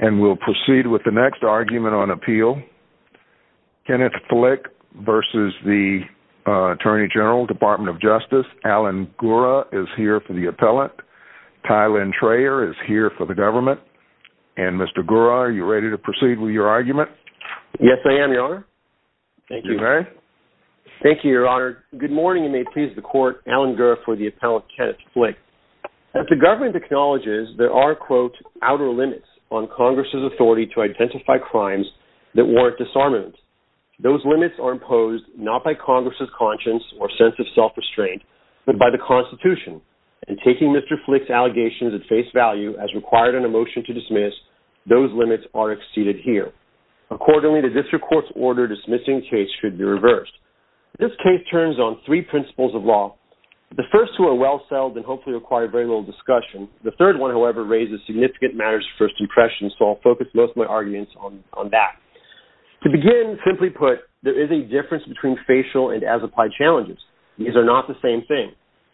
And we'll proceed with the next argument on appeal. Kenneth Flick v. Attorney General, Department of Justice. Alan Gura is here for the appellant. Tylynn Trayer is here for the government. And Mr. Gura, are you ready to proceed with your argument? Yes, I am, Your Honor. Thank you. You may rise. Thank you, Your Honor. Good morning and may it please the Court. Alan Gura for the appellant, Kenneth Flick. As the government acknowledges, there are, quote, outer limits on Congress' authority to identify crimes that warrant disarmament. Those limits are imposed not by Congress' conscience or sense of self-restraint, but by the Constitution. And taking Mr. Flick's allegations at face value as required in a motion to dismiss, those limits are exceeded here. Accordingly, the district court's order dismissing the case should be reversed. This case turns on three principles of law. The first two are well-settled and hopefully require very little discussion. The third one, however, raises significant matters of first impression, so I'll focus most of my arguments on that. To begin, simply put, there is a difference between facial and as-applied challenges. These are not the same thing.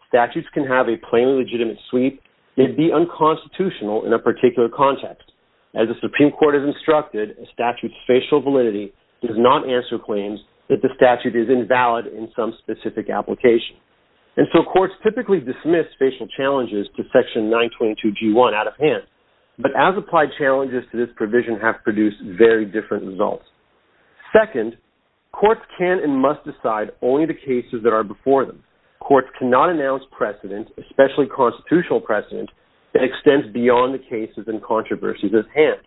Statutes can have a plainly legitimate sweep. They'd be unconstitutional in a particular context. As the Supreme Court has instructed, a statute's facial validity does not answer claims that the statute is invalid in some specific application. And so courts typically dismiss facial challenges to Section 922G1 out of hand. But as-applied challenges to this provision have produced very different results. Second, courts can and must decide only the cases that are before them. Courts cannot announce precedent, especially constitutional precedent, that extends beyond the cases and controversies at hand.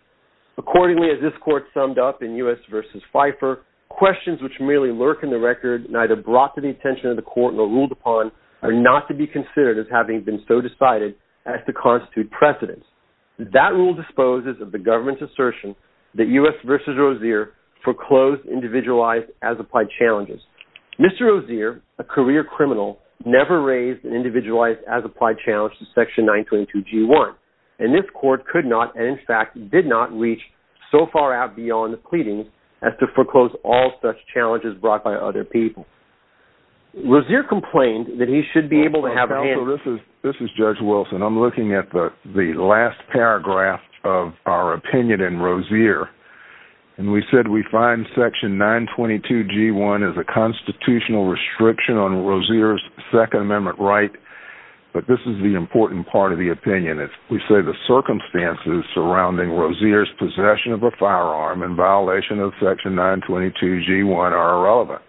Accordingly, as this court summed up in U.S. v. Fifer, questions which merely lurk in the record, neither brought to the attention of the court nor ruled upon, are not to be considered as having been so decided as to constitute precedent. That rule disposes of the government's assertion that U.S. v. Rozier foreclosed individualized as-applied challenges. Mr. Rozier, a career criminal, never raised an individualized as-applied challenge to Section 922G1. And this court could not, and in fact did not, so far out beyond the pleadings as to foreclose all such challenges brought by other people. Rozier complained that he should be able to have a hand- Counsel, this is Judge Wilson. I'm looking at the last paragraph of our opinion in Rozier. And we said we find Section 922G1 is a constitutional restriction on Rozier's Second Amendment right. But this is the important part of the opinion. We say the circumstances surrounding Rozier's possession of a firearm in violation of Section 922G1 are irrelevant.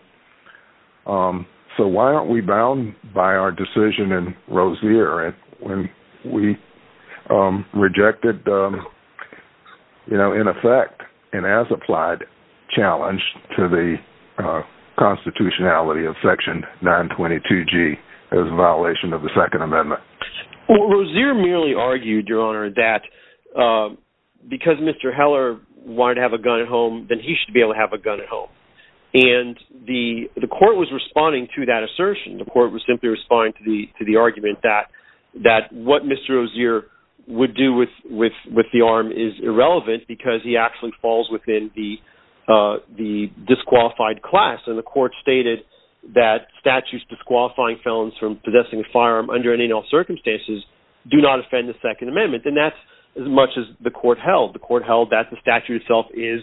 So why aren't we bound by our decision in Rozier when we rejected, in effect, an as-applied challenge to the constitutionality of Section 922G as a violation of the Second Amendment? Well, Rozier merely argued, Your Honor, that because Mr. Heller wanted to have a gun at home, that he should be able to have a gun at home. And the court was responding to that assertion. The court was simply responding to the argument that what Mr. Rozier would do with the arm is irrelevant because he actually falls within the disqualified class. And the court stated that statutes disqualifying felons from possessing a firearm under any and all circumstances do not offend the Second Amendment. And that's as much as the court held. The court held that the statute itself is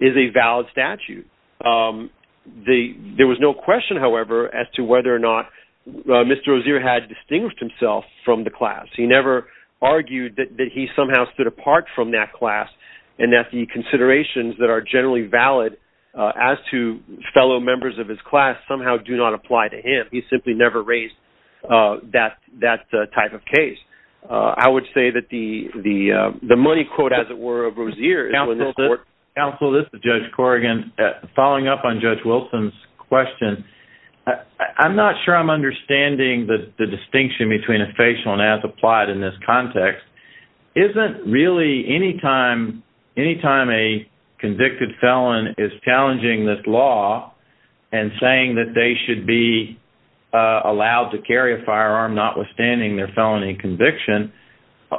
a valid statute. There was no question, however, as to whether or not Mr. Rozier had distinguished himself from the class. He never argued that he somehow stood apart from that class and that the considerations that are generally valid as to fellow members of his class somehow do not apply to him. He simply never raised that type of case. I would say that the money quote, as it were, of Rozier is when the court- Counsel, this is Judge Corrigan. Following up on Judge Wilson's question, I'm not sure I'm understanding the distinction between a facial and as-applied in this context. Isn't really any time a convicted felon is challenging this law and saying that they should be allowed to carry a firearm notwithstanding their felony conviction,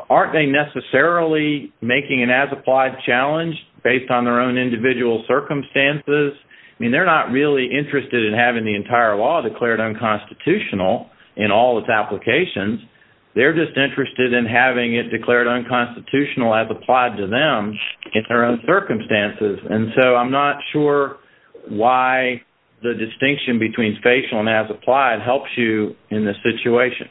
aren't they necessarily making an as-applied challenge based on their own individual circumstances? I mean, they're not really interested in having the entire law declared unconstitutional in all its applications. They're just interested in having it declared unconstitutional as applied to them in their own circumstances. And so I'm not sure why the distinction between facial and as-applied helps you in this situation.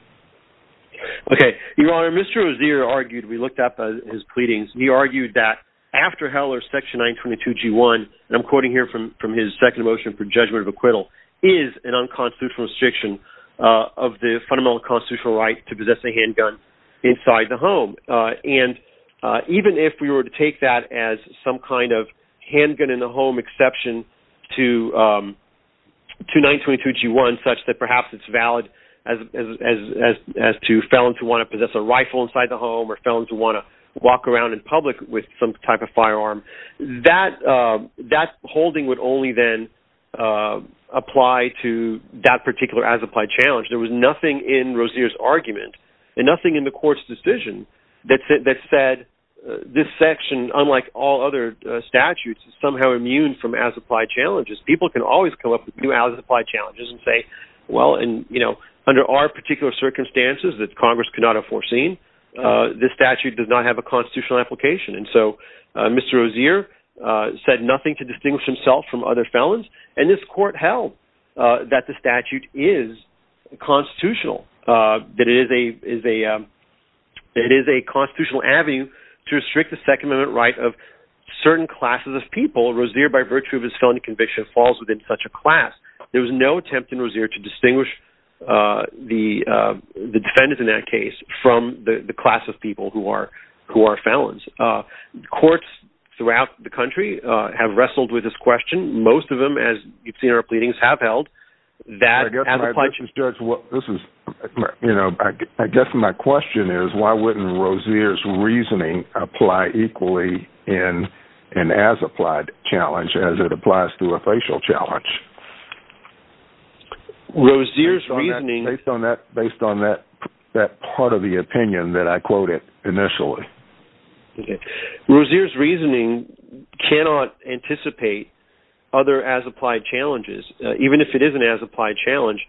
Okay, Your Honor, Mr. Rozier argued, we looked up his pleadings, he argued that after Heller's section 922G1, and I'm quoting here from his second motion for judgment of acquittal, is an unconstitutional restriction of the fundamental constitutional right to possess a handgun inside the home. And even if we were to take that as some kind of handgun-in-the-home exception to 922G1 such that perhaps it's valid as to felons who want to possess a rifle inside the home or felons who want to walk around in public with some type of firearm, that holding would only then apply to that particular as-applied challenge. There was nothing in Rozier's argument and nothing in the court's decision that said this section, unlike all other statutes, is somehow immune from as-applied challenges. People can always come up with new as-applied challenges and say, well, under our particular circumstances that Congress could not have foreseen, this statute does not have a constitutional application. And so Mr. Rozier said nothing to distinguish himself from other felons, and this court held that the statute is constitutional, that it is a constitutional avenue to restrict the Second Amendment right of certain classes of people. Rozier, by virtue of his felony conviction, falls within such a class. There was no attempt in Rozier to distinguish the defendant in that case from the class of people who are felons. Courts throughout the country have wrestled with this question. Most of them, as you've seen our pleadings, have held that as-applied challenge. I guess my question is why wouldn't Rozier's reasoning apply equally in an as-applied challenge as it applies to a facial challenge based on that part of the opinion that I quoted initially? Rozier's reasoning cannot anticipate other as-applied challenges. Even if it is an as-applied challenge,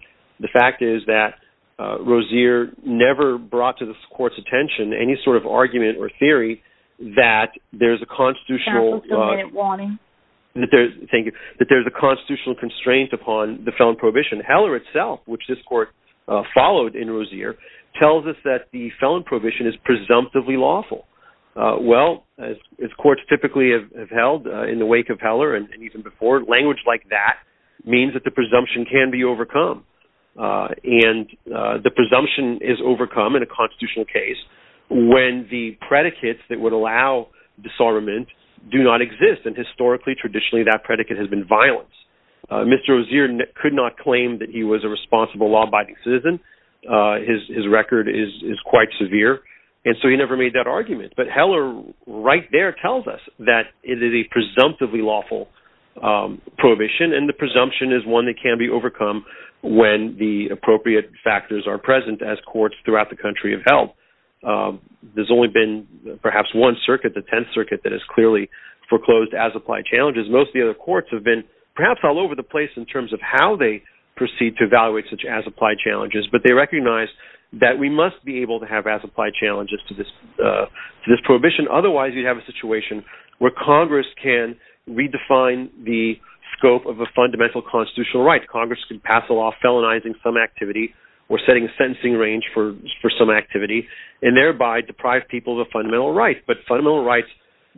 the fact is that Rozier never brought to this court's attention any sort of argument or theory that there's a constitutional constraint upon the felon prohibition. Heller itself, which this court followed in Rozier, tells us that the felon prohibition is presumptively lawful. Well, as courts typically have held in the wake of Heller and even before, language like that means that the presumption can be overcome. The presumption is overcome in a constitutional case when the predicates that would allow disarmament do not exist. Historically, traditionally, that predicate has been violence. Mr. Rozier could not claim that he was a responsible law-abiding citizen. His record is quite severe, and so he never made that argument. But Heller right there tells us that it is a presumptively lawful prohibition, and the presumption is one that can be overcome when the appropriate factors are present as courts throughout the country have held. There's only been perhaps one circuit, the Tenth Circuit, that has clearly foreclosed as-applied challenges. Most of the other courts have been perhaps all over the place in terms of how they proceed to evaluate such as-applied challenges, but they recognize that we must be able to have as-applied challenges to this prohibition. Otherwise, you'd have a situation where Congress can redefine the scope of a fundamental constitutional right. Congress can pass a law felonizing some activity or setting a sentencing range for some activity, and thereby deprive people of a fundamental right. But fundamental rights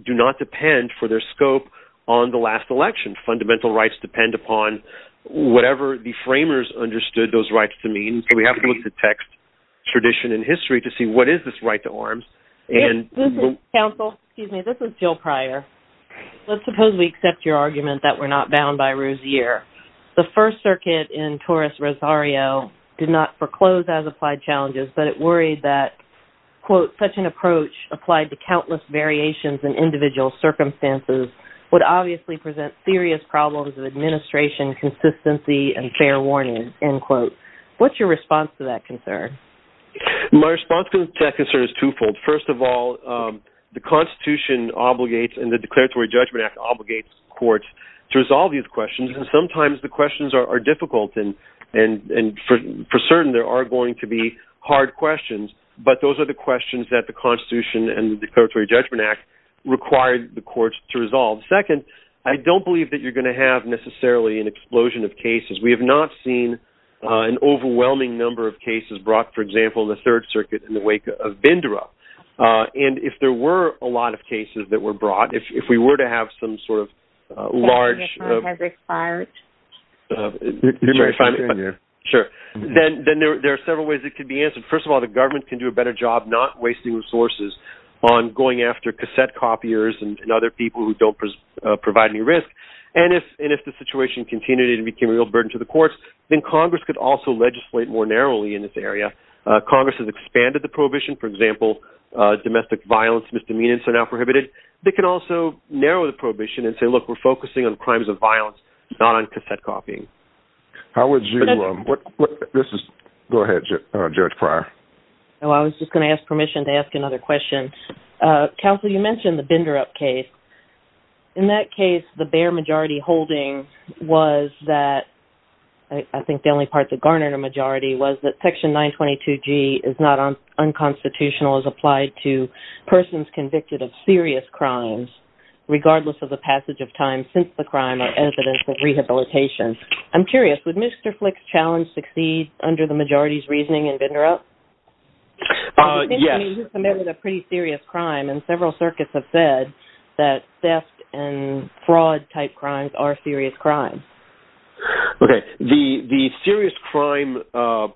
do not depend for their scope on the last election. Fundamental rights depend upon whatever the framers understood those rights to mean. We have to look at text, tradition, and history to see what is this right to arms. This is Jill Pryor. Let's suppose we accept your argument that we're not bound by Rousier. The First Circuit in Torres-Rosario did not foreclose as-applied challenges, but it worried that, quote, such an approach applied to countless variations in individual circumstances would obviously present serious problems of administration, consistency, and fair warning, end quote. What's your response to that concern? My response to that concern is twofold. First of all, the Constitution obligates and the Declaratory Judgment Act obligates courts to resolve these questions, and sometimes the questions are difficult, and for certain there are going to be hard questions, but those are the questions that the Constitution and the Declaratory Judgment Act require the courts to resolve. Second, I don't believe that you're going to have necessarily an explosion of cases. We have not seen an overwhelming number of cases brought, for example, in the Third Circuit in the wake of Bindura, and if there were a lot of cases that were brought, if we were to have some sort of large- Can you clarify what you're saying here? Sure. Then there are several ways it could be answered. First of all, the government can do a better job not wasting resources on going after cassette copiers and other people who don't provide any risk, and if the situation continued and it became a real burden to the courts, then Congress could also legislate more narrowly in this area. Congress has expanded the prohibition. For example, domestic violence misdemeanors are now prohibited. They can also narrow the prohibition and say, look, we're focusing on crimes of violence, not on cassette copying. How would you- This is- Go ahead, Judge Pryor. I was just going to ask permission to ask another question. Counsel, you mentioned the Bindura case. In that case, the bare majority holding was that-I think the only part that garnered a majority- was that Section 922G is not unconstitutional as applied to persons convicted of serious crimes, regardless of the passage of time since the crime or evidence of rehabilitation. I'm curious, would Mr. Flick's challenge succeed under the majority's reasoning in Bindura? Yes. I mean, he committed a pretty serious crime, and several circuits have said that theft and fraud-type crimes are serious crimes. Okay. The serious crime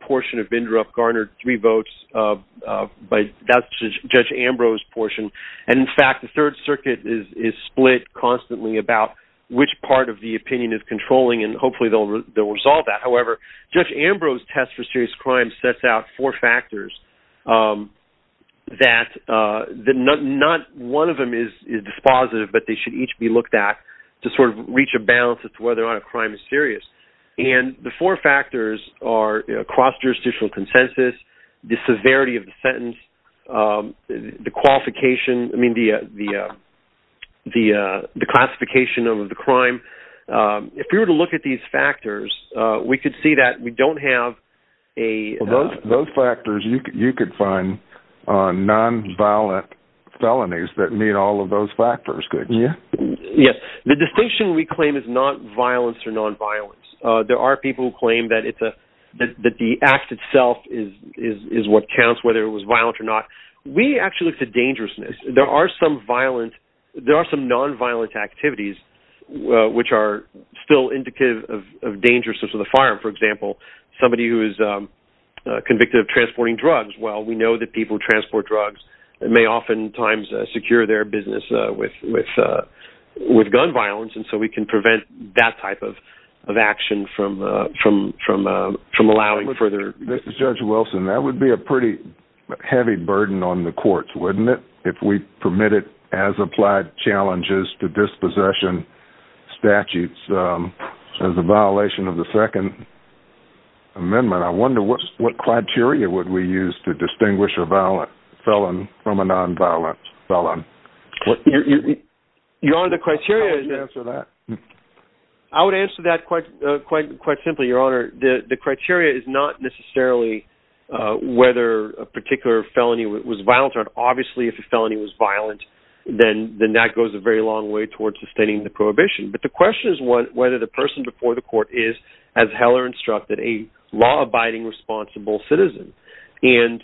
portion of Bindura garnered three votes by Judge Ambrose's portion, and, in fact, the Third Circuit is split constantly about which part of the opinion is controlling, and hopefully they'll resolve that. However, Judge Ambrose's test for serious crime sets out four factors that- not one of them is dispositive, but they should each be looked at to sort of reach a balance as to whether or not a crime is serious. And the four factors are cross-jurisdictional consensus, the severity of the sentence, the qualification- I mean, the classification of the crime. If we were to look at these factors, we could see that we don't have a- Those factors, you could find nonviolent felonies that meet all of those factors, couldn't you? Yes. The distinction we claim is not violence or nonviolence. There are people who claim that the act itself is what counts, whether it was violent or not. We actually look to dangerousness. There are some violent- There are some nonviolent activities which are still indicative of danger, such as with a firearm, for example. Somebody who is convicted of transporting drugs, well, we know that people who transport drugs may oftentimes secure their business with gun violence, and so we can prevent that type of action from allowing further- This is Judge Wilson. That would be a pretty heavy burden on the courts, wouldn't it, if we permitted as-applied challenges to dispossession statutes as a violation of the Second Amendment? I wonder what criteria would we use to distinguish a felon from a nonviolent felon? Your Honor, the criteria- How would you answer that? I would answer that quite simply, Your Honor. The criteria is not necessarily whether a particular felony was violent. Obviously, if a felony was violent, then that goes a very long way towards sustaining the prohibition. But the question is whether the person before the court is, as Heller instructed, a law-abiding, responsible citizen. And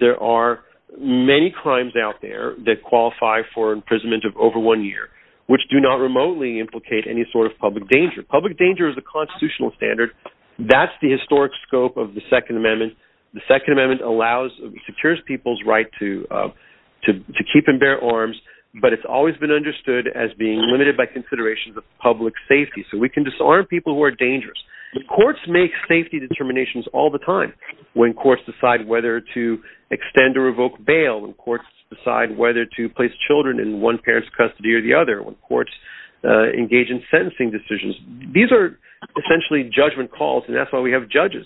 there are many crimes out there that qualify for imprisonment of over one year, which do not remotely implicate any sort of public danger. Public danger is a constitutional standard. That's the historic scope of the Second Amendment. The Second Amendment allows-secures people's right to keep and bear arms, but it's always been understood as being limited by considerations of public safety. So we can disarm people who are dangerous. The courts make safety determinations all the time. When courts decide whether to extend or revoke bail, when courts decide whether to place children in one parent's custody or the other, or when courts engage in sentencing decisions, these are essentially judgment calls, and that's why we have judges.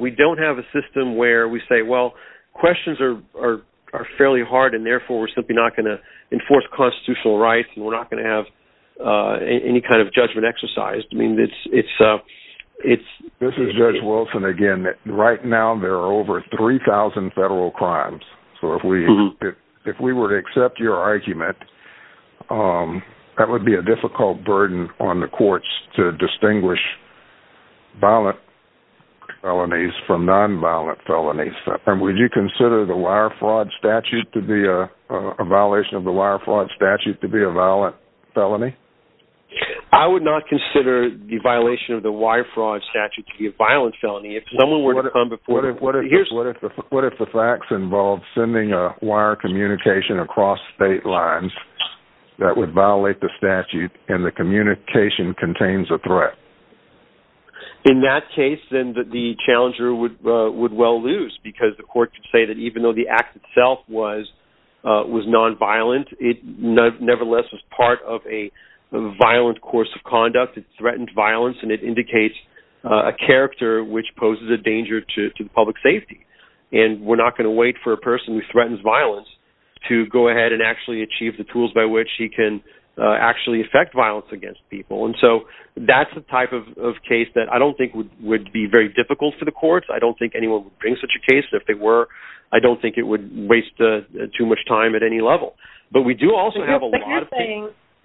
We don't have a system where we say, well, questions are fairly hard, and therefore we're simply not going to enforce constitutional rights and we're not going to have any kind of judgment exercised. I mean, it's- This is Judge Wilson again. Right now there are over 3,000 federal crimes. So if we were to accept your argument, that would be a difficult burden on the courts to distinguish violent felonies from nonviolent felonies. And would you consider the wire fraud statute to be a violation of the wire fraud statute to be a violent felony? I would not consider the violation of the wire fraud statute to be a violent felony. What if the facts involved sending a wire communication across state lines that would violate the statute and the communication contains a threat? In that case, then the challenger would well lose, because the court could say that even though the act itself was nonviolent, it nevertheless was part of a violent course of conduct. It threatened violence and it indicates a character which poses a danger to public safety. And we're not going to wait for a person who threatens violence to go ahead and actually achieve the tools by which he can actually affect violence against people. And so that's the type of case that I don't think would be very difficult for the courts. I don't think anyone would bring such a case. If they were, I don't think it would waste too much time at any level. But we do also have a lot of-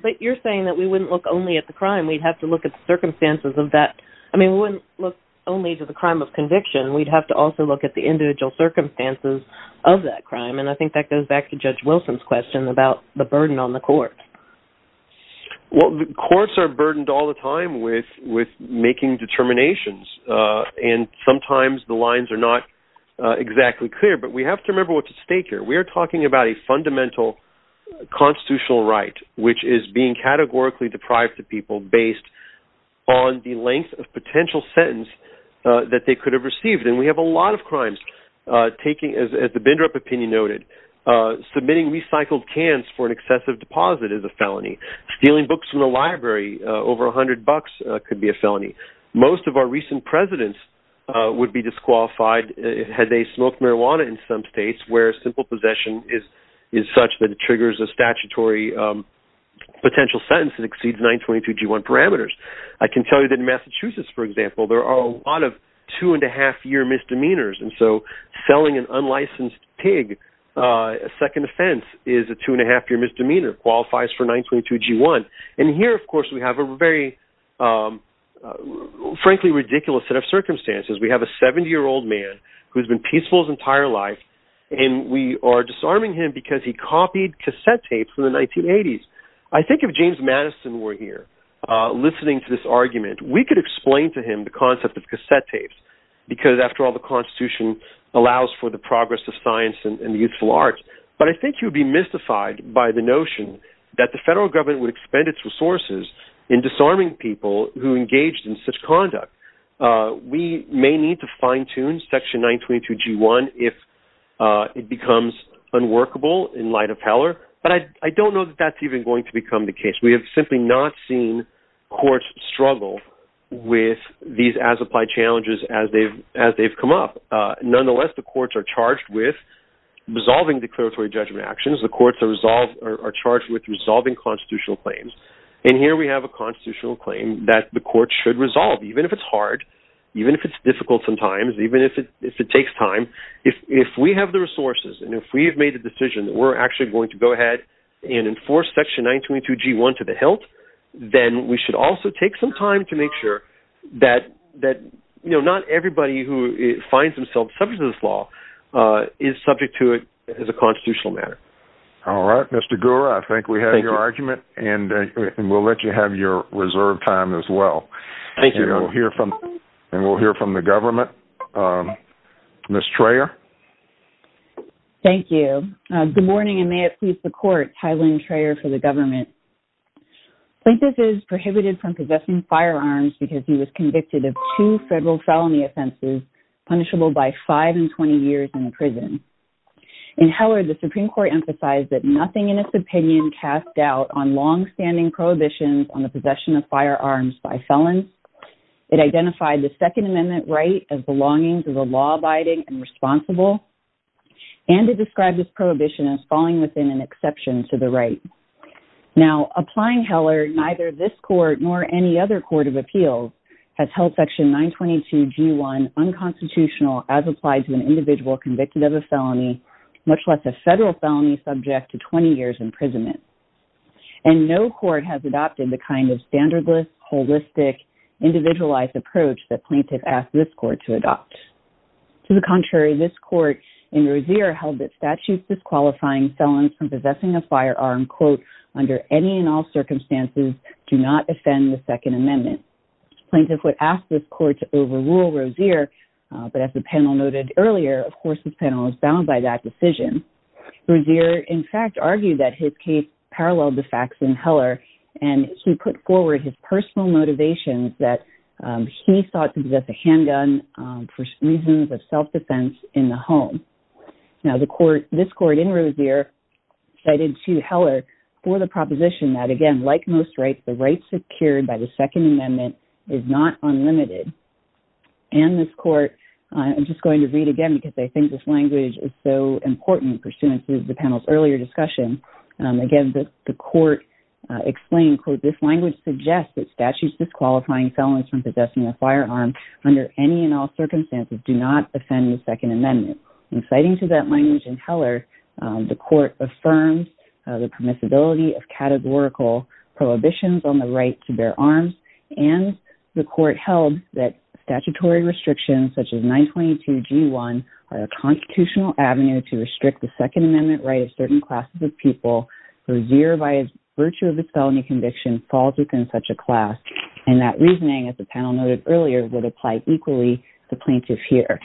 But you're saying that we wouldn't look only at the crime. We'd have to look at the circumstances of that. I mean, we wouldn't look only to the crime of conviction. We'd have to also look at the individual circumstances of that crime. And I think that goes back to Judge Wilson's question about the burden on the court. Well, courts are burdened all the time with making determinations. And sometimes the lines are not exactly clear. But we have to remember what's at stake here. We are talking about a fundamental constitutional right, which is being categorically deprived of people based on the length of potential sentence that they could have received. And we have a lot of crimes. As the Bindrup opinion noted, submitting recycled cans for an excessive deposit is a felony. Stealing books from the library over $100 could be a felony. Most of our recent presidents would be disqualified had they smoked marijuana in some states where simple possession is such that it triggers a statutory potential sentence that exceeds 922G1 parameters. I can tell you that in Massachusetts, for example, there are a lot of two-and-a-half-year misdemeanors. And so selling an unlicensed pig, a second offense, is a two-and-a-half-year misdemeanor, qualifies for 922G1. And here, of course, we have a very, frankly, ridiculous set of circumstances. We have a 70-year-old man who has been peaceful his entire life, and we are disarming him because he copied cassette tapes from the 1980s. I think if James Madison were here listening to this argument, we could explain to him the concept of cassette tapes, because, after all, the Constitution allows for the progress of science and the youthful arts. But I think he would be mystified by the notion that the federal government would expend its resources in disarming people who engaged in such conduct. We may need to fine-tune Section 922G1 if it becomes unworkable in light of Heller, but I don't know that that's even going to become the case. We have simply not seen courts struggle with these as-applied challenges as they've come up. Nonetheless, the courts are charged with resolving declaratory judgment actions. The courts are charged with resolving constitutional claims. And here we have a constitutional claim that the courts should resolve, even if it's hard, even if it's difficult sometimes, even if it takes time. If we have the resources and if we have made the decision that we're actually going to go ahead and enforce Section 922G1 to the hilt, then we should also take some time to make sure that not everybody who finds themselves subject to this law is subject to it as a constitutional matter. All right, Mr. Gura, I think we have your argument, and we'll let you have your reserved time as well. Thank you. And we'll hear from the government. Ms. Traer? Thank you. Good morning, and may it please the Court, Tylynn Traer for the government. Plaintiff is prohibited from possessing firearms because he was convicted of two federal felony offenses punishable by five and 20 years in prison. In Heller, the Supreme Court emphasized that nothing in its opinion cast doubt on longstanding prohibitions on the possession of firearms by felons. It identified the Second Amendment right as belonging to the law-abiding and responsible, and it described this prohibition as falling within an exception to the right. Now, applying Heller, neither this court nor any other court of appeals has held Section 922G1 unconstitutional as applied to an individual convicted of a felony, much less a federal felony subject to 20 years imprisonment. And no court has adopted the kind of standardless, holistic, individualized approach that plaintiff asked this court to adopt. To the contrary, this court in Rozier held that statutes disqualifying felons from possessing a firearm under any and all circumstances do not offend the Second Amendment. Plaintiff would ask this court to overrule Rozier, but as the panel noted earlier, of course this panel was bound by that decision. Rozier, in fact, argued that his case paralleled the facts in Heller, and he put forward his personal motivations that he sought to possess a handgun for reasons of self-defense in the home. Now, this court in Rozier cited to Heller for the proposition that, again, like most rights, the right secured by the Second Amendment is not unlimited. And this court, I'm just going to read again because I think this language is so important pursuant to the panel's earlier discussion. Again, the court explained, quote, this language suggests that statutes disqualifying felons from possessing a firearm under any and all circumstances do not offend the Second Amendment. And citing to that language in Heller, the court affirmed the permissibility of categorical prohibitions on the right to bear arms, and the court held that statutory restrictions such as 922G1 are a constitutional avenue to restrict the Second Amendment right of certain classes of people. Rozier, by virtue of his felony conviction, falls within such a class. And that reasoning, as the panel noted earlier, would apply equally to plaintiffs here.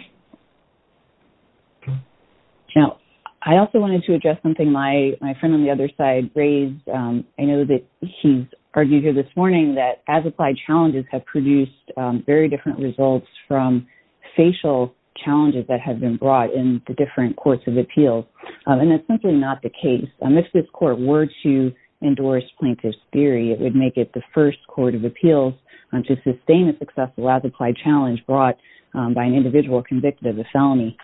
Now, I also wanted to address something my friend on the other side raised. I know that he's argued here this morning that as-applied challenges have produced very different results from facial challenges that have been brought in the different courts of appeals. And that's simply not the case. If this court were to endorse plaintiff's theory, it would make it the first court of appeals to sustain a successful as-applied challenge brought by an individual convicted of a felony.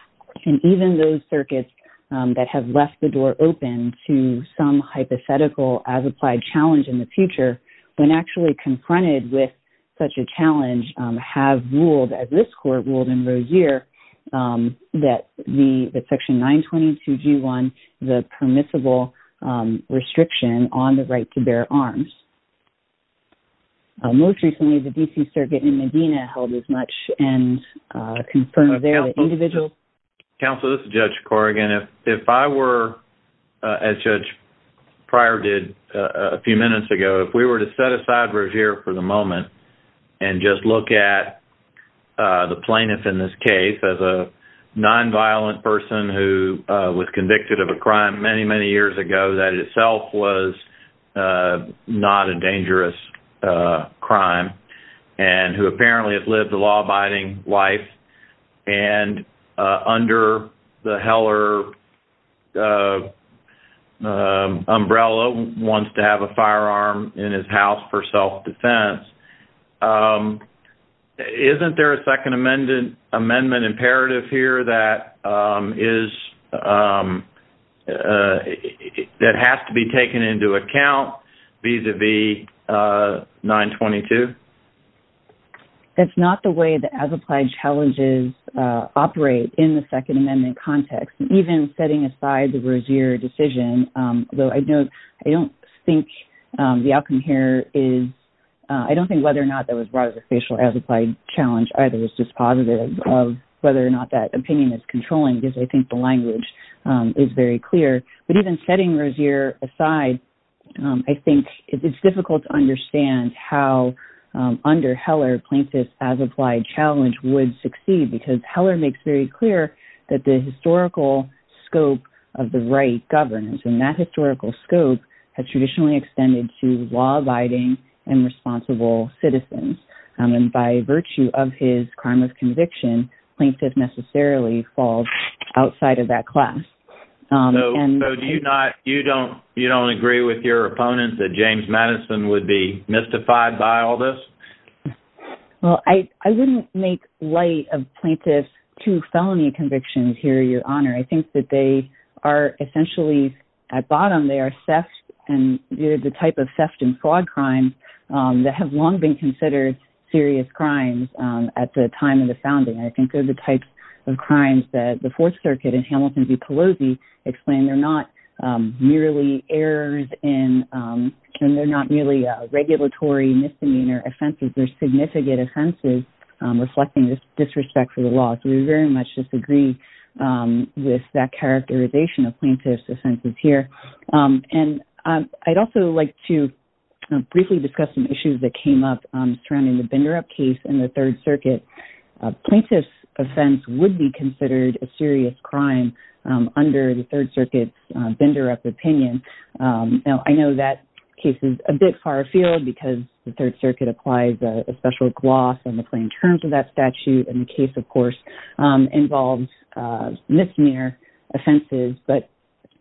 And even those circuits that have left the door open to some hypothetical as-applied challenge in the future, when actually confronted with such a challenge, have ruled, as this court ruled in Rozier, that Section 922G1 is a permissible restriction on the right to bear arms. Most recently, the D.C. Circuit in Medina held as much and confirmed there that individuals... Counsel, this is Judge Corrigan. If I were, as Judge Pryor did a few minutes ago, if we were to set aside Rozier for the moment and just look at the plaintiff in this case as a nonviolent person who was convicted of a crime many, many years ago that itself was not a dangerous crime, and who apparently has lived a law-abiding life, and under the Heller umbrella wants to have a firearm in his house for self-defense, isn't there a Second Amendment imperative here that has to be taken into account vis-à-vis 922? That's not the way the as-applied challenges operate in the Second Amendment context. Even setting aside the Rozier decision, though I don't think the outcome here is... I don't think whether or not that was brought as a facial as-applied challenge either. It's just positive of whether or not that opinion is controlling, because I think the language is very clear. But even setting Rozier aside, I think it's difficult to understand how under Heller, plaintiff's as-applied challenge would succeed, because Heller makes very clear that the historical scope of the right governs, and that historical scope has traditionally extended to law-abiding and responsible citizens. And by virtue of his crime of conviction, plaintiff necessarily falls outside of that class. So you don't agree with your opponent that James Madison would be mystified by all this? Well, I wouldn't make light of plaintiff's two felony convictions here, Your Honor. I think that they are essentially, at bottom, they are the type of theft and fraud crimes that have long been considered serious crimes at the time of the founding. I think they're the types of crimes that the Fourth Circuit in Hamilton v. Pelosi explained they're not merely errors in... and they're not merely regulatory misdemeanor offenses. They're significant offenses reflecting disrespect for the law. So we very much disagree with that characterization of plaintiff's offenses here. And I'd also like to briefly discuss some issues that came up surrounding the Binderup case in the Third Circuit. Plaintiff's offense would be considered a serious crime under the Third Circuit's Binderup opinion. Now, I know that case is a bit far afield, because the Third Circuit applies a special gloss on the plain terms of that statute, and the case, of course, involves misdemeanor offenses. But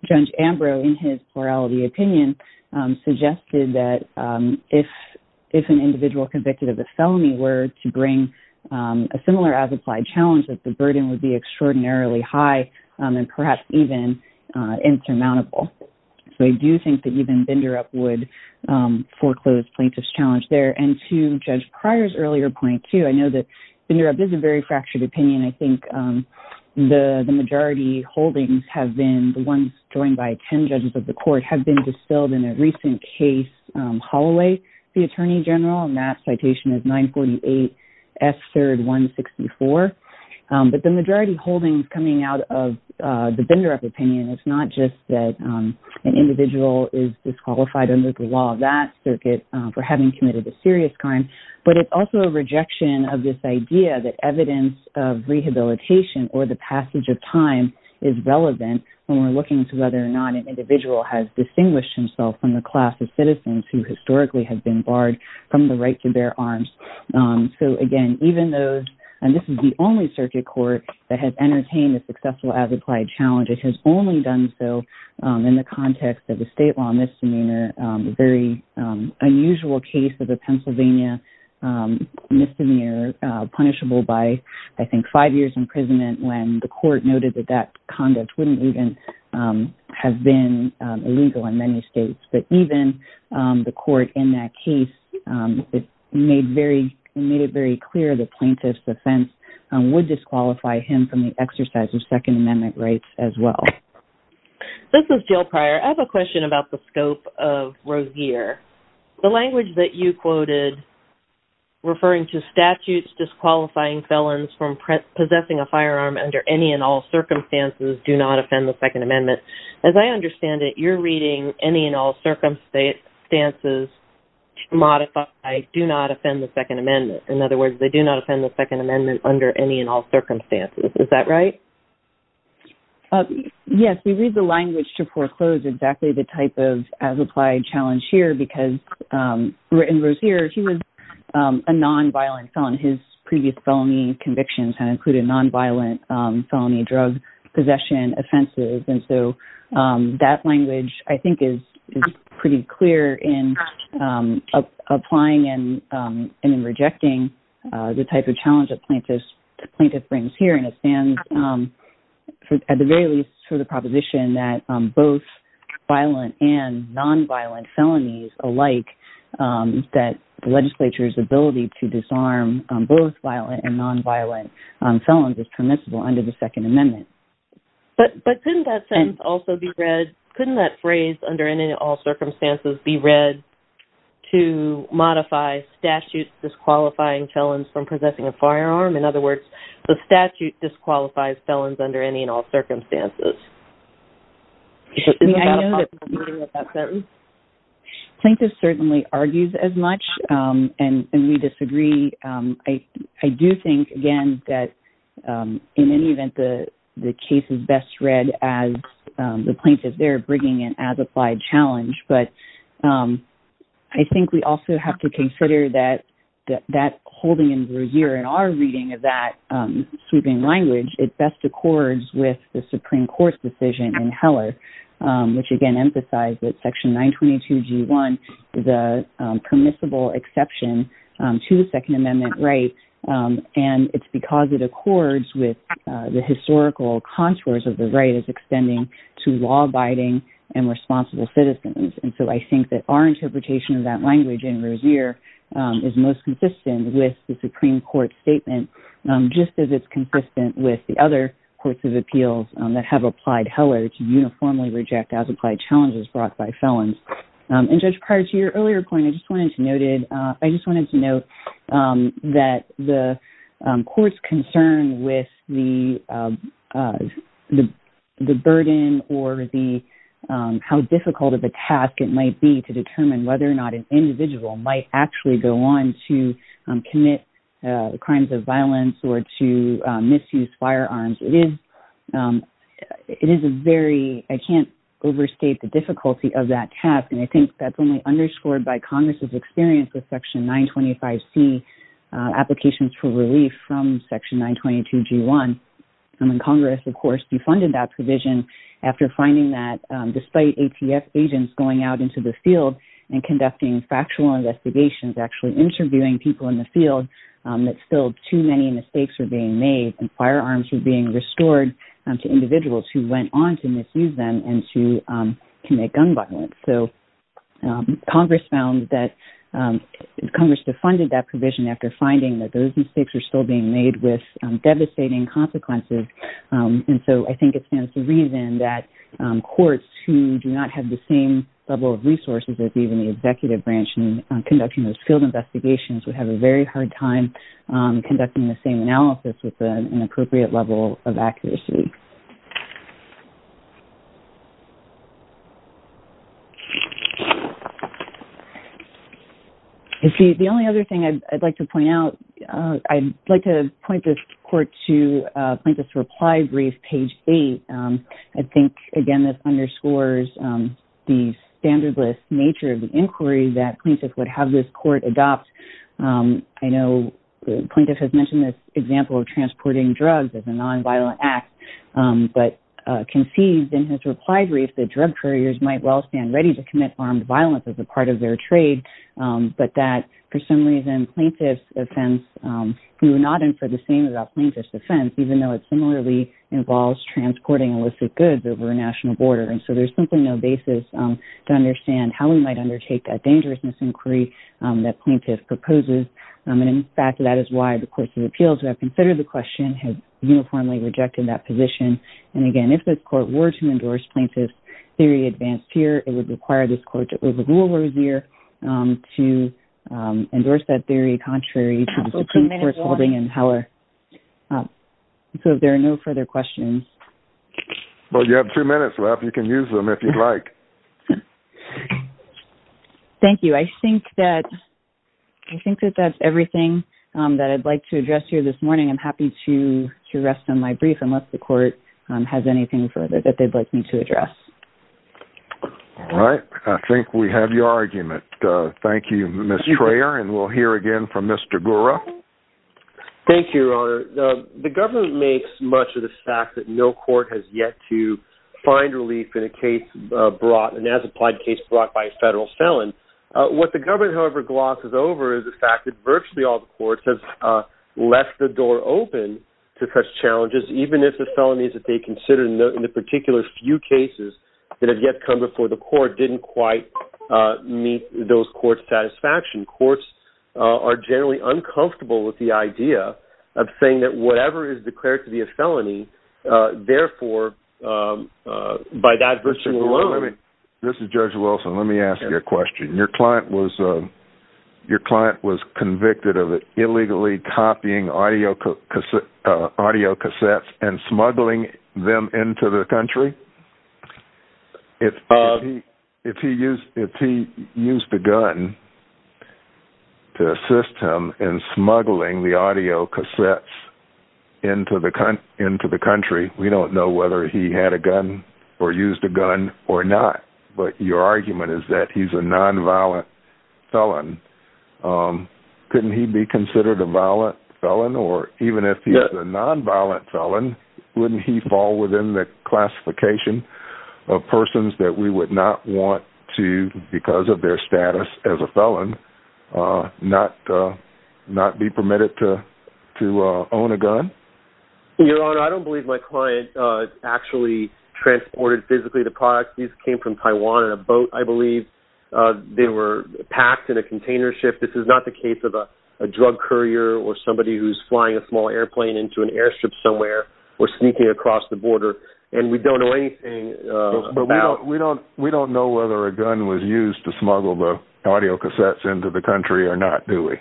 Judge Ambrose, in his plurality opinion, suggested that if an individual convicted of a felony were to bring a similar as-applied challenge, that the burden would be extraordinarily high and perhaps even insurmountable. So I do think that even Binderup would foreclose plaintiff's challenge there. And to Judge Pryor's earlier point, too, I know that Binderup is a very fractured opinion. I think the majority holdings have been... the ones joined by ten judges of the court have been distilled in a recent case, Holloway v. Attorney General, and that citation is 948 S. 3rd 164. But the majority holdings coming out of the Binderup opinion, it's not just that an individual is disqualified under the law of that circuit for having committed a serious crime, but it's also a rejection of this idea that evidence of rehabilitation or the passage of time is relevant when we're looking to whether or not an individual has distinguished himself from the class of citizens who historically have been barred from the right to bear arms. So, again, even though... and this is the only circuit court that has entertained the successful as-implied challenge, it has only done so in the context of a state-law misdemeanor, a very unusual case of a Pennsylvania misdemeanor punishable by, I think, five years' imprisonment when the court noted that that conduct wouldn't even have been illegal in many states. But even the court in that case made it very clear the plaintiff's offense would disqualify him from the exercise of Second Amendment rights as well. This is Jill Pryor. I have a question about the scope of Rozier. The language that you quoted referring to statutes disqualifying felons from possessing a firearm under any and all circumstances do not offend the Second Amendment. As I understand it, you're reading any and all circumstances to modify do not offend the Second Amendment. In other words, they do not offend the Second Amendment under any and all circumstances. Is that right? Yes, we read the language to foreclose exactly the type of as-applied challenge here because in Rozier, he was a non-violent felon. His previous felony convictions had included non-violent felony drug possession offenses. That language, I think, is pretty clear in applying and rejecting the type of challenge the plaintiff brings here. It stands, at the very least, for the proposition that both violent and non-violent felonies alike, that the legislature's ability to disarm both violent and non-violent felons is permissible under the Second Amendment. But couldn't that sentence also be read, couldn't that phrase, under any and all circumstances, be read to modify statutes disqualifying felons from possessing a firearm? In other words, the statute disqualifies felons under any and all circumstances. Plaintiff certainly argues as much, and we disagree. I do think, again, that in any event, the case is best read as the plaintiff there bringing an as-applied challenge. But I think we also have to consider that that holding in Rozier in our reading of that sweeping language, it best accords with the Supreme Court's decision in Heller, which again emphasizes that Section 922G1 is a permissible exception to the Second Amendment right, and it's because it accords with the historical contours of the right as extending to law-abiding and responsible citizens. And so I think that our interpretation of that language in Rozier is most consistent with the Supreme Court's statement, just as it's consistent with the other courts of appeals that have applied Heller to uniformly reject as-applied challenges brought by felons. And Judge, prior to your earlier point, I just wanted to note that the court's concern with the burden or how difficult of a task it might be to determine whether or not an individual might actually go on to commit crimes of violence or to misuse firearms. It is a very – I can't overstate the difficulty of that task, and I think that's only underscored by Congress's experience with Section 925C applications for relief from Section 922G1. Congress, of course, defunded that provision after finding that despite ATF agents going out into the field and conducting factual investigations, actually interviewing people in the field, that still too many mistakes were being made and firearms were being restored to individuals who went on to misuse them and to commit gun violence. So Congress found that – Congress defunded that provision after finding that those mistakes were still being made with devastating consequences. And so I think it stands to reason that courts who do not have the same level of resources as even the executive branch in conducting those field investigations would have a very hard time conducting the same analysis with an appropriate level of accuracy. You see, the only other thing I'd like to point out – I'd like to point this court to Plaintiff's Reply Brief, page 8. I think, again, this underscores the standardless nature of the inquiry that plaintiffs would have this court adopt. I know the plaintiff has mentioned this example of transporting drugs as a nonviolent act, but conceived in his reply brief that drug couriers might well stand ready to commit armed violence as a part of their trade, but that for some reason plaintiff's offense – we would not infer the same about plaintiff's offense, even though it similarly involves transporting illicit goods over a national border. And so there's simply no basis to understand how we might undertake that dangerousness inquiry that plaintiff proposes. And, in fact, that is why the Court of Appeals, who have considered the question, has uniformly rejected that position. And, again, if this court were to endorse plaintiff's theory advanced here, it would require this court to overrule Rozier to endorse that theory contrary to the Supreme Court's holding in power. So if there are no further questions… Well, you have two minutes left. You can use them if you'd like. Thank you. I think that that's everything that I'd like to address here this morning. I'm happy to rest on my brief unless the court has anything further that they'd like me to address. All right. I think we have your argument. Thank you, Ms. Traer. And we'll hear again from Mr. Gura. Thank you, Your Honor. The government makes much of the fact that no court has yet to find relief in a case brought, an as-applied case brought by a federal felon. What the government, however, glosses over is the fact that virtually all the courts have left the door open to such challenges, even if the felonies that they consider in the particular few cases that have yet come before the court didn't quite meet those courts' satisfaction. Courts are generally uncomfortable with the idea of saying that whatever is declared to be a felony, therefore, by that version alone… This is Judge Wilson. Let me ask you a question. Your client was convicted of illegally copying audio cassettes and smuggling them into the country? If he used a gun to assist him in smuggling the audio cassettes into the country, we don't know whether he had a gun or used a gun or not. But your argument is that he's a nonviolent felon. Couldn't he be considered a violent felon? Or even if he's a nonviolent felon, wouldn't he fall within the classification of persons that we would not want to, because of their status as a felon, not be permitted to own a gun? Your Honor, I don't believe my client actually transported physically the product. These came from Taiwan in a boat, I believe. They were packed in a container ship. This is not the case of a drug courier or somebody who's flying a small airplane into an airstrip somewhere or sneaking across the border. And we don't know anything about… We don't know whether a gun was used to smuggle the audio cassettes into the country or not, do we?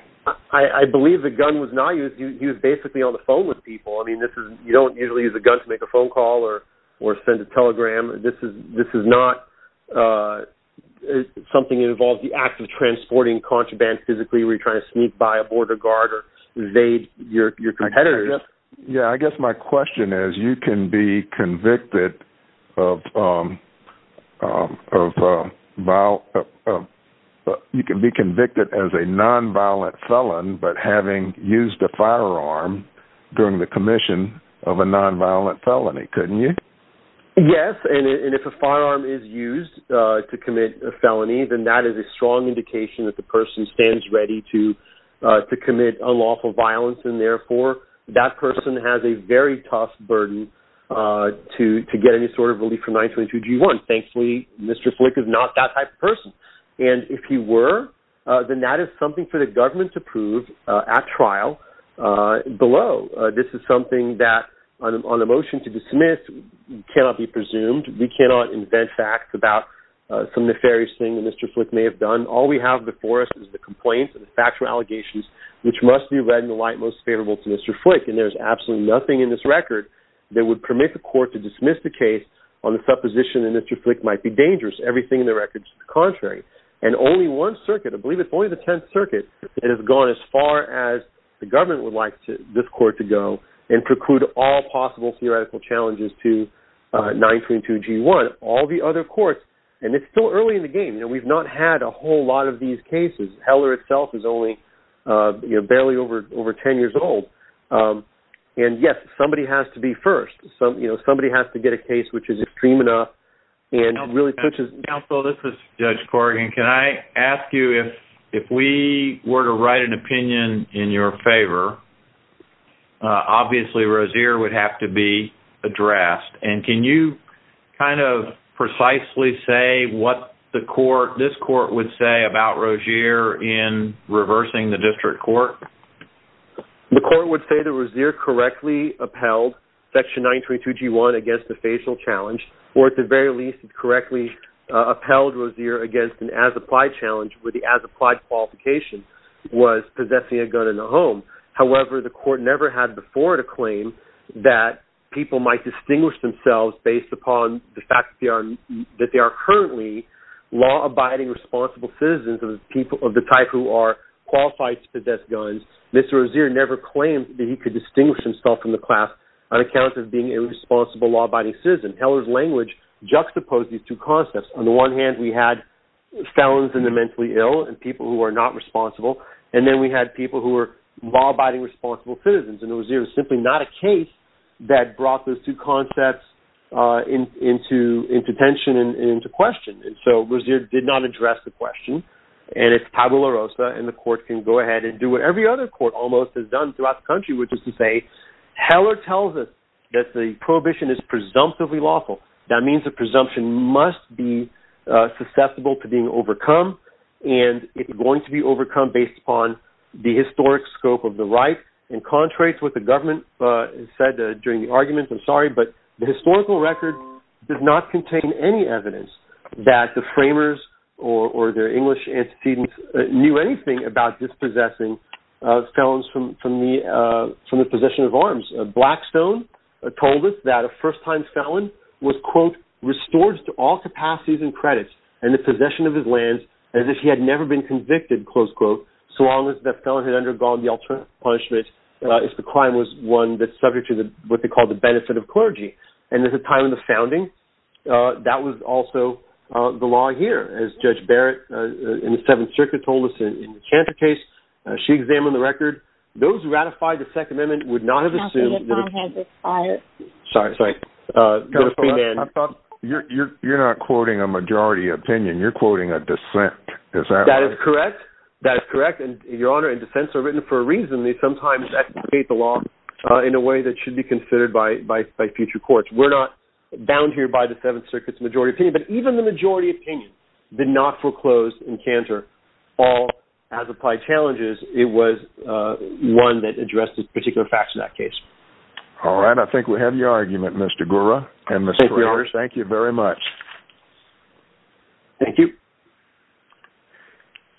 I believe the gun was not used. He was basically on the phone with people. I mean, you don't usually use a gun to make a phone call or send a telegram. This is not something that involves the act of transporting contraband physically where you're trying to sneak by a border guard or evade your competitors. Yeah, I guess my question is, you can be convicted as a nonviolent felon but having used a firearm during the commission of a nonviolent felony, couldn't you? Yes, and if a firearm is used to commit a felony, then that is a strong indication that the person stands ready to commit unlawful violence and therefore that person has a very tough burden to get any sort of relief from 922 G1. Thankfully, Mr. Flick is not that type of person. And if he were, then that is something for the government to prove at trial below. This is something that on a motion to dismiss cannot be presumed. We cannot invent facts about some nefarious thing that Mr. Flick may have done. All we have before us is the complaints and the factual allegations which must be read in the light most favorable to Mr. Flick. And there's absolutely nothing in this record that would permit the court to dismiss the case on the supposition that Mr. Flick might be dangerous. Everything in the record is the contrary. And only one circuit, I believe it's only the Tenth Circuit, has gone as far as the government would like this court to go and preclude all possible theoretical challenges to 922 G1. All the other courts, and it's still early in the game. We've not had a whole lot of these cases. Heller itself is only barely over 10 years old. And yes, somebody has to be first. Somebody has to get a case which is extreme enough and really pushes. Counsel, this is Judge Corrigan. Can I ask you if we were to write an opinion in your favor, obviously Rozier would have to be addressed. And can you kind of precisely say what this court would say about Rozier in reversing the district court? The court would say that Rozier correctly upheld Section 922 G1 against the facial challenge or at the very least correctly upheld Rozier against an as-applied challenge with the as-applied qualification was possessing a gun in the home. However, the court never had before to claim that people might distinguish themselves based upon the fact that they are currently law-abiding responsible citizens of the type who are qualified to possess guns. Mr. Rozier never claimed that he could distinguish himself from the class on account of being a responsible law-abiding citizen. Heller's language juxtaposed these two concepts. On the one hand, we had felons in the mentally ill and people who are not responsible, and then we had people who were law-abiding responsible citizens, and Rozier was simply not a case that brought those two concepts into tension and into question. So Rozier did not address the question, and it's Pablo La Rosa, and the court can go ahead and do what every other court almost has done throughout the country, which is to say Heller tells us that the prohibition is presumptively lawful. That means the presumption must be susceptible to being overcome, and it's going to be overcome based upon the historic scope of the right. It contradicts what the government said during the argument, I'm sorry, but the historical record does not contain any evidence that the framers or their English antecedents knew anything about dispossessing felons from the possession of arms. Blackstone told us that a first-time felon was, quote, restored to all capacities and credits and the possession of his lands as if he had never been convicted, close quote, so long as the felon had undergone the ultimate punishment if the crime was one that's subject to what they called the benefit of clergy. And at the time of the founding, that was also the law here, as Judge Barrett in the Seventh Circuit told us in the Cantor case. She examined the record. Those who ratified the Second Amendment would not have assumed that a- Counselor, your phone has expired. Sorry, sorry. Counselor, I thought you're not quoting a majority opinion. You're quoting a dissent. Is that right? That is correct. That is correct, and, Your Honor, and dissents are written for a reason. They sometimes advocate the law in a way that should be considered by future courts. We're not bound here by the Seventh Circuit's majority opinion, but even the majority opinion did not foreclose in Cantor all as applied challenges. It was one that addressed particular facts in that case. All right. I think we have your argument, Mr. Gura. Thank you, Your Honor. Thank you very much. Thank you.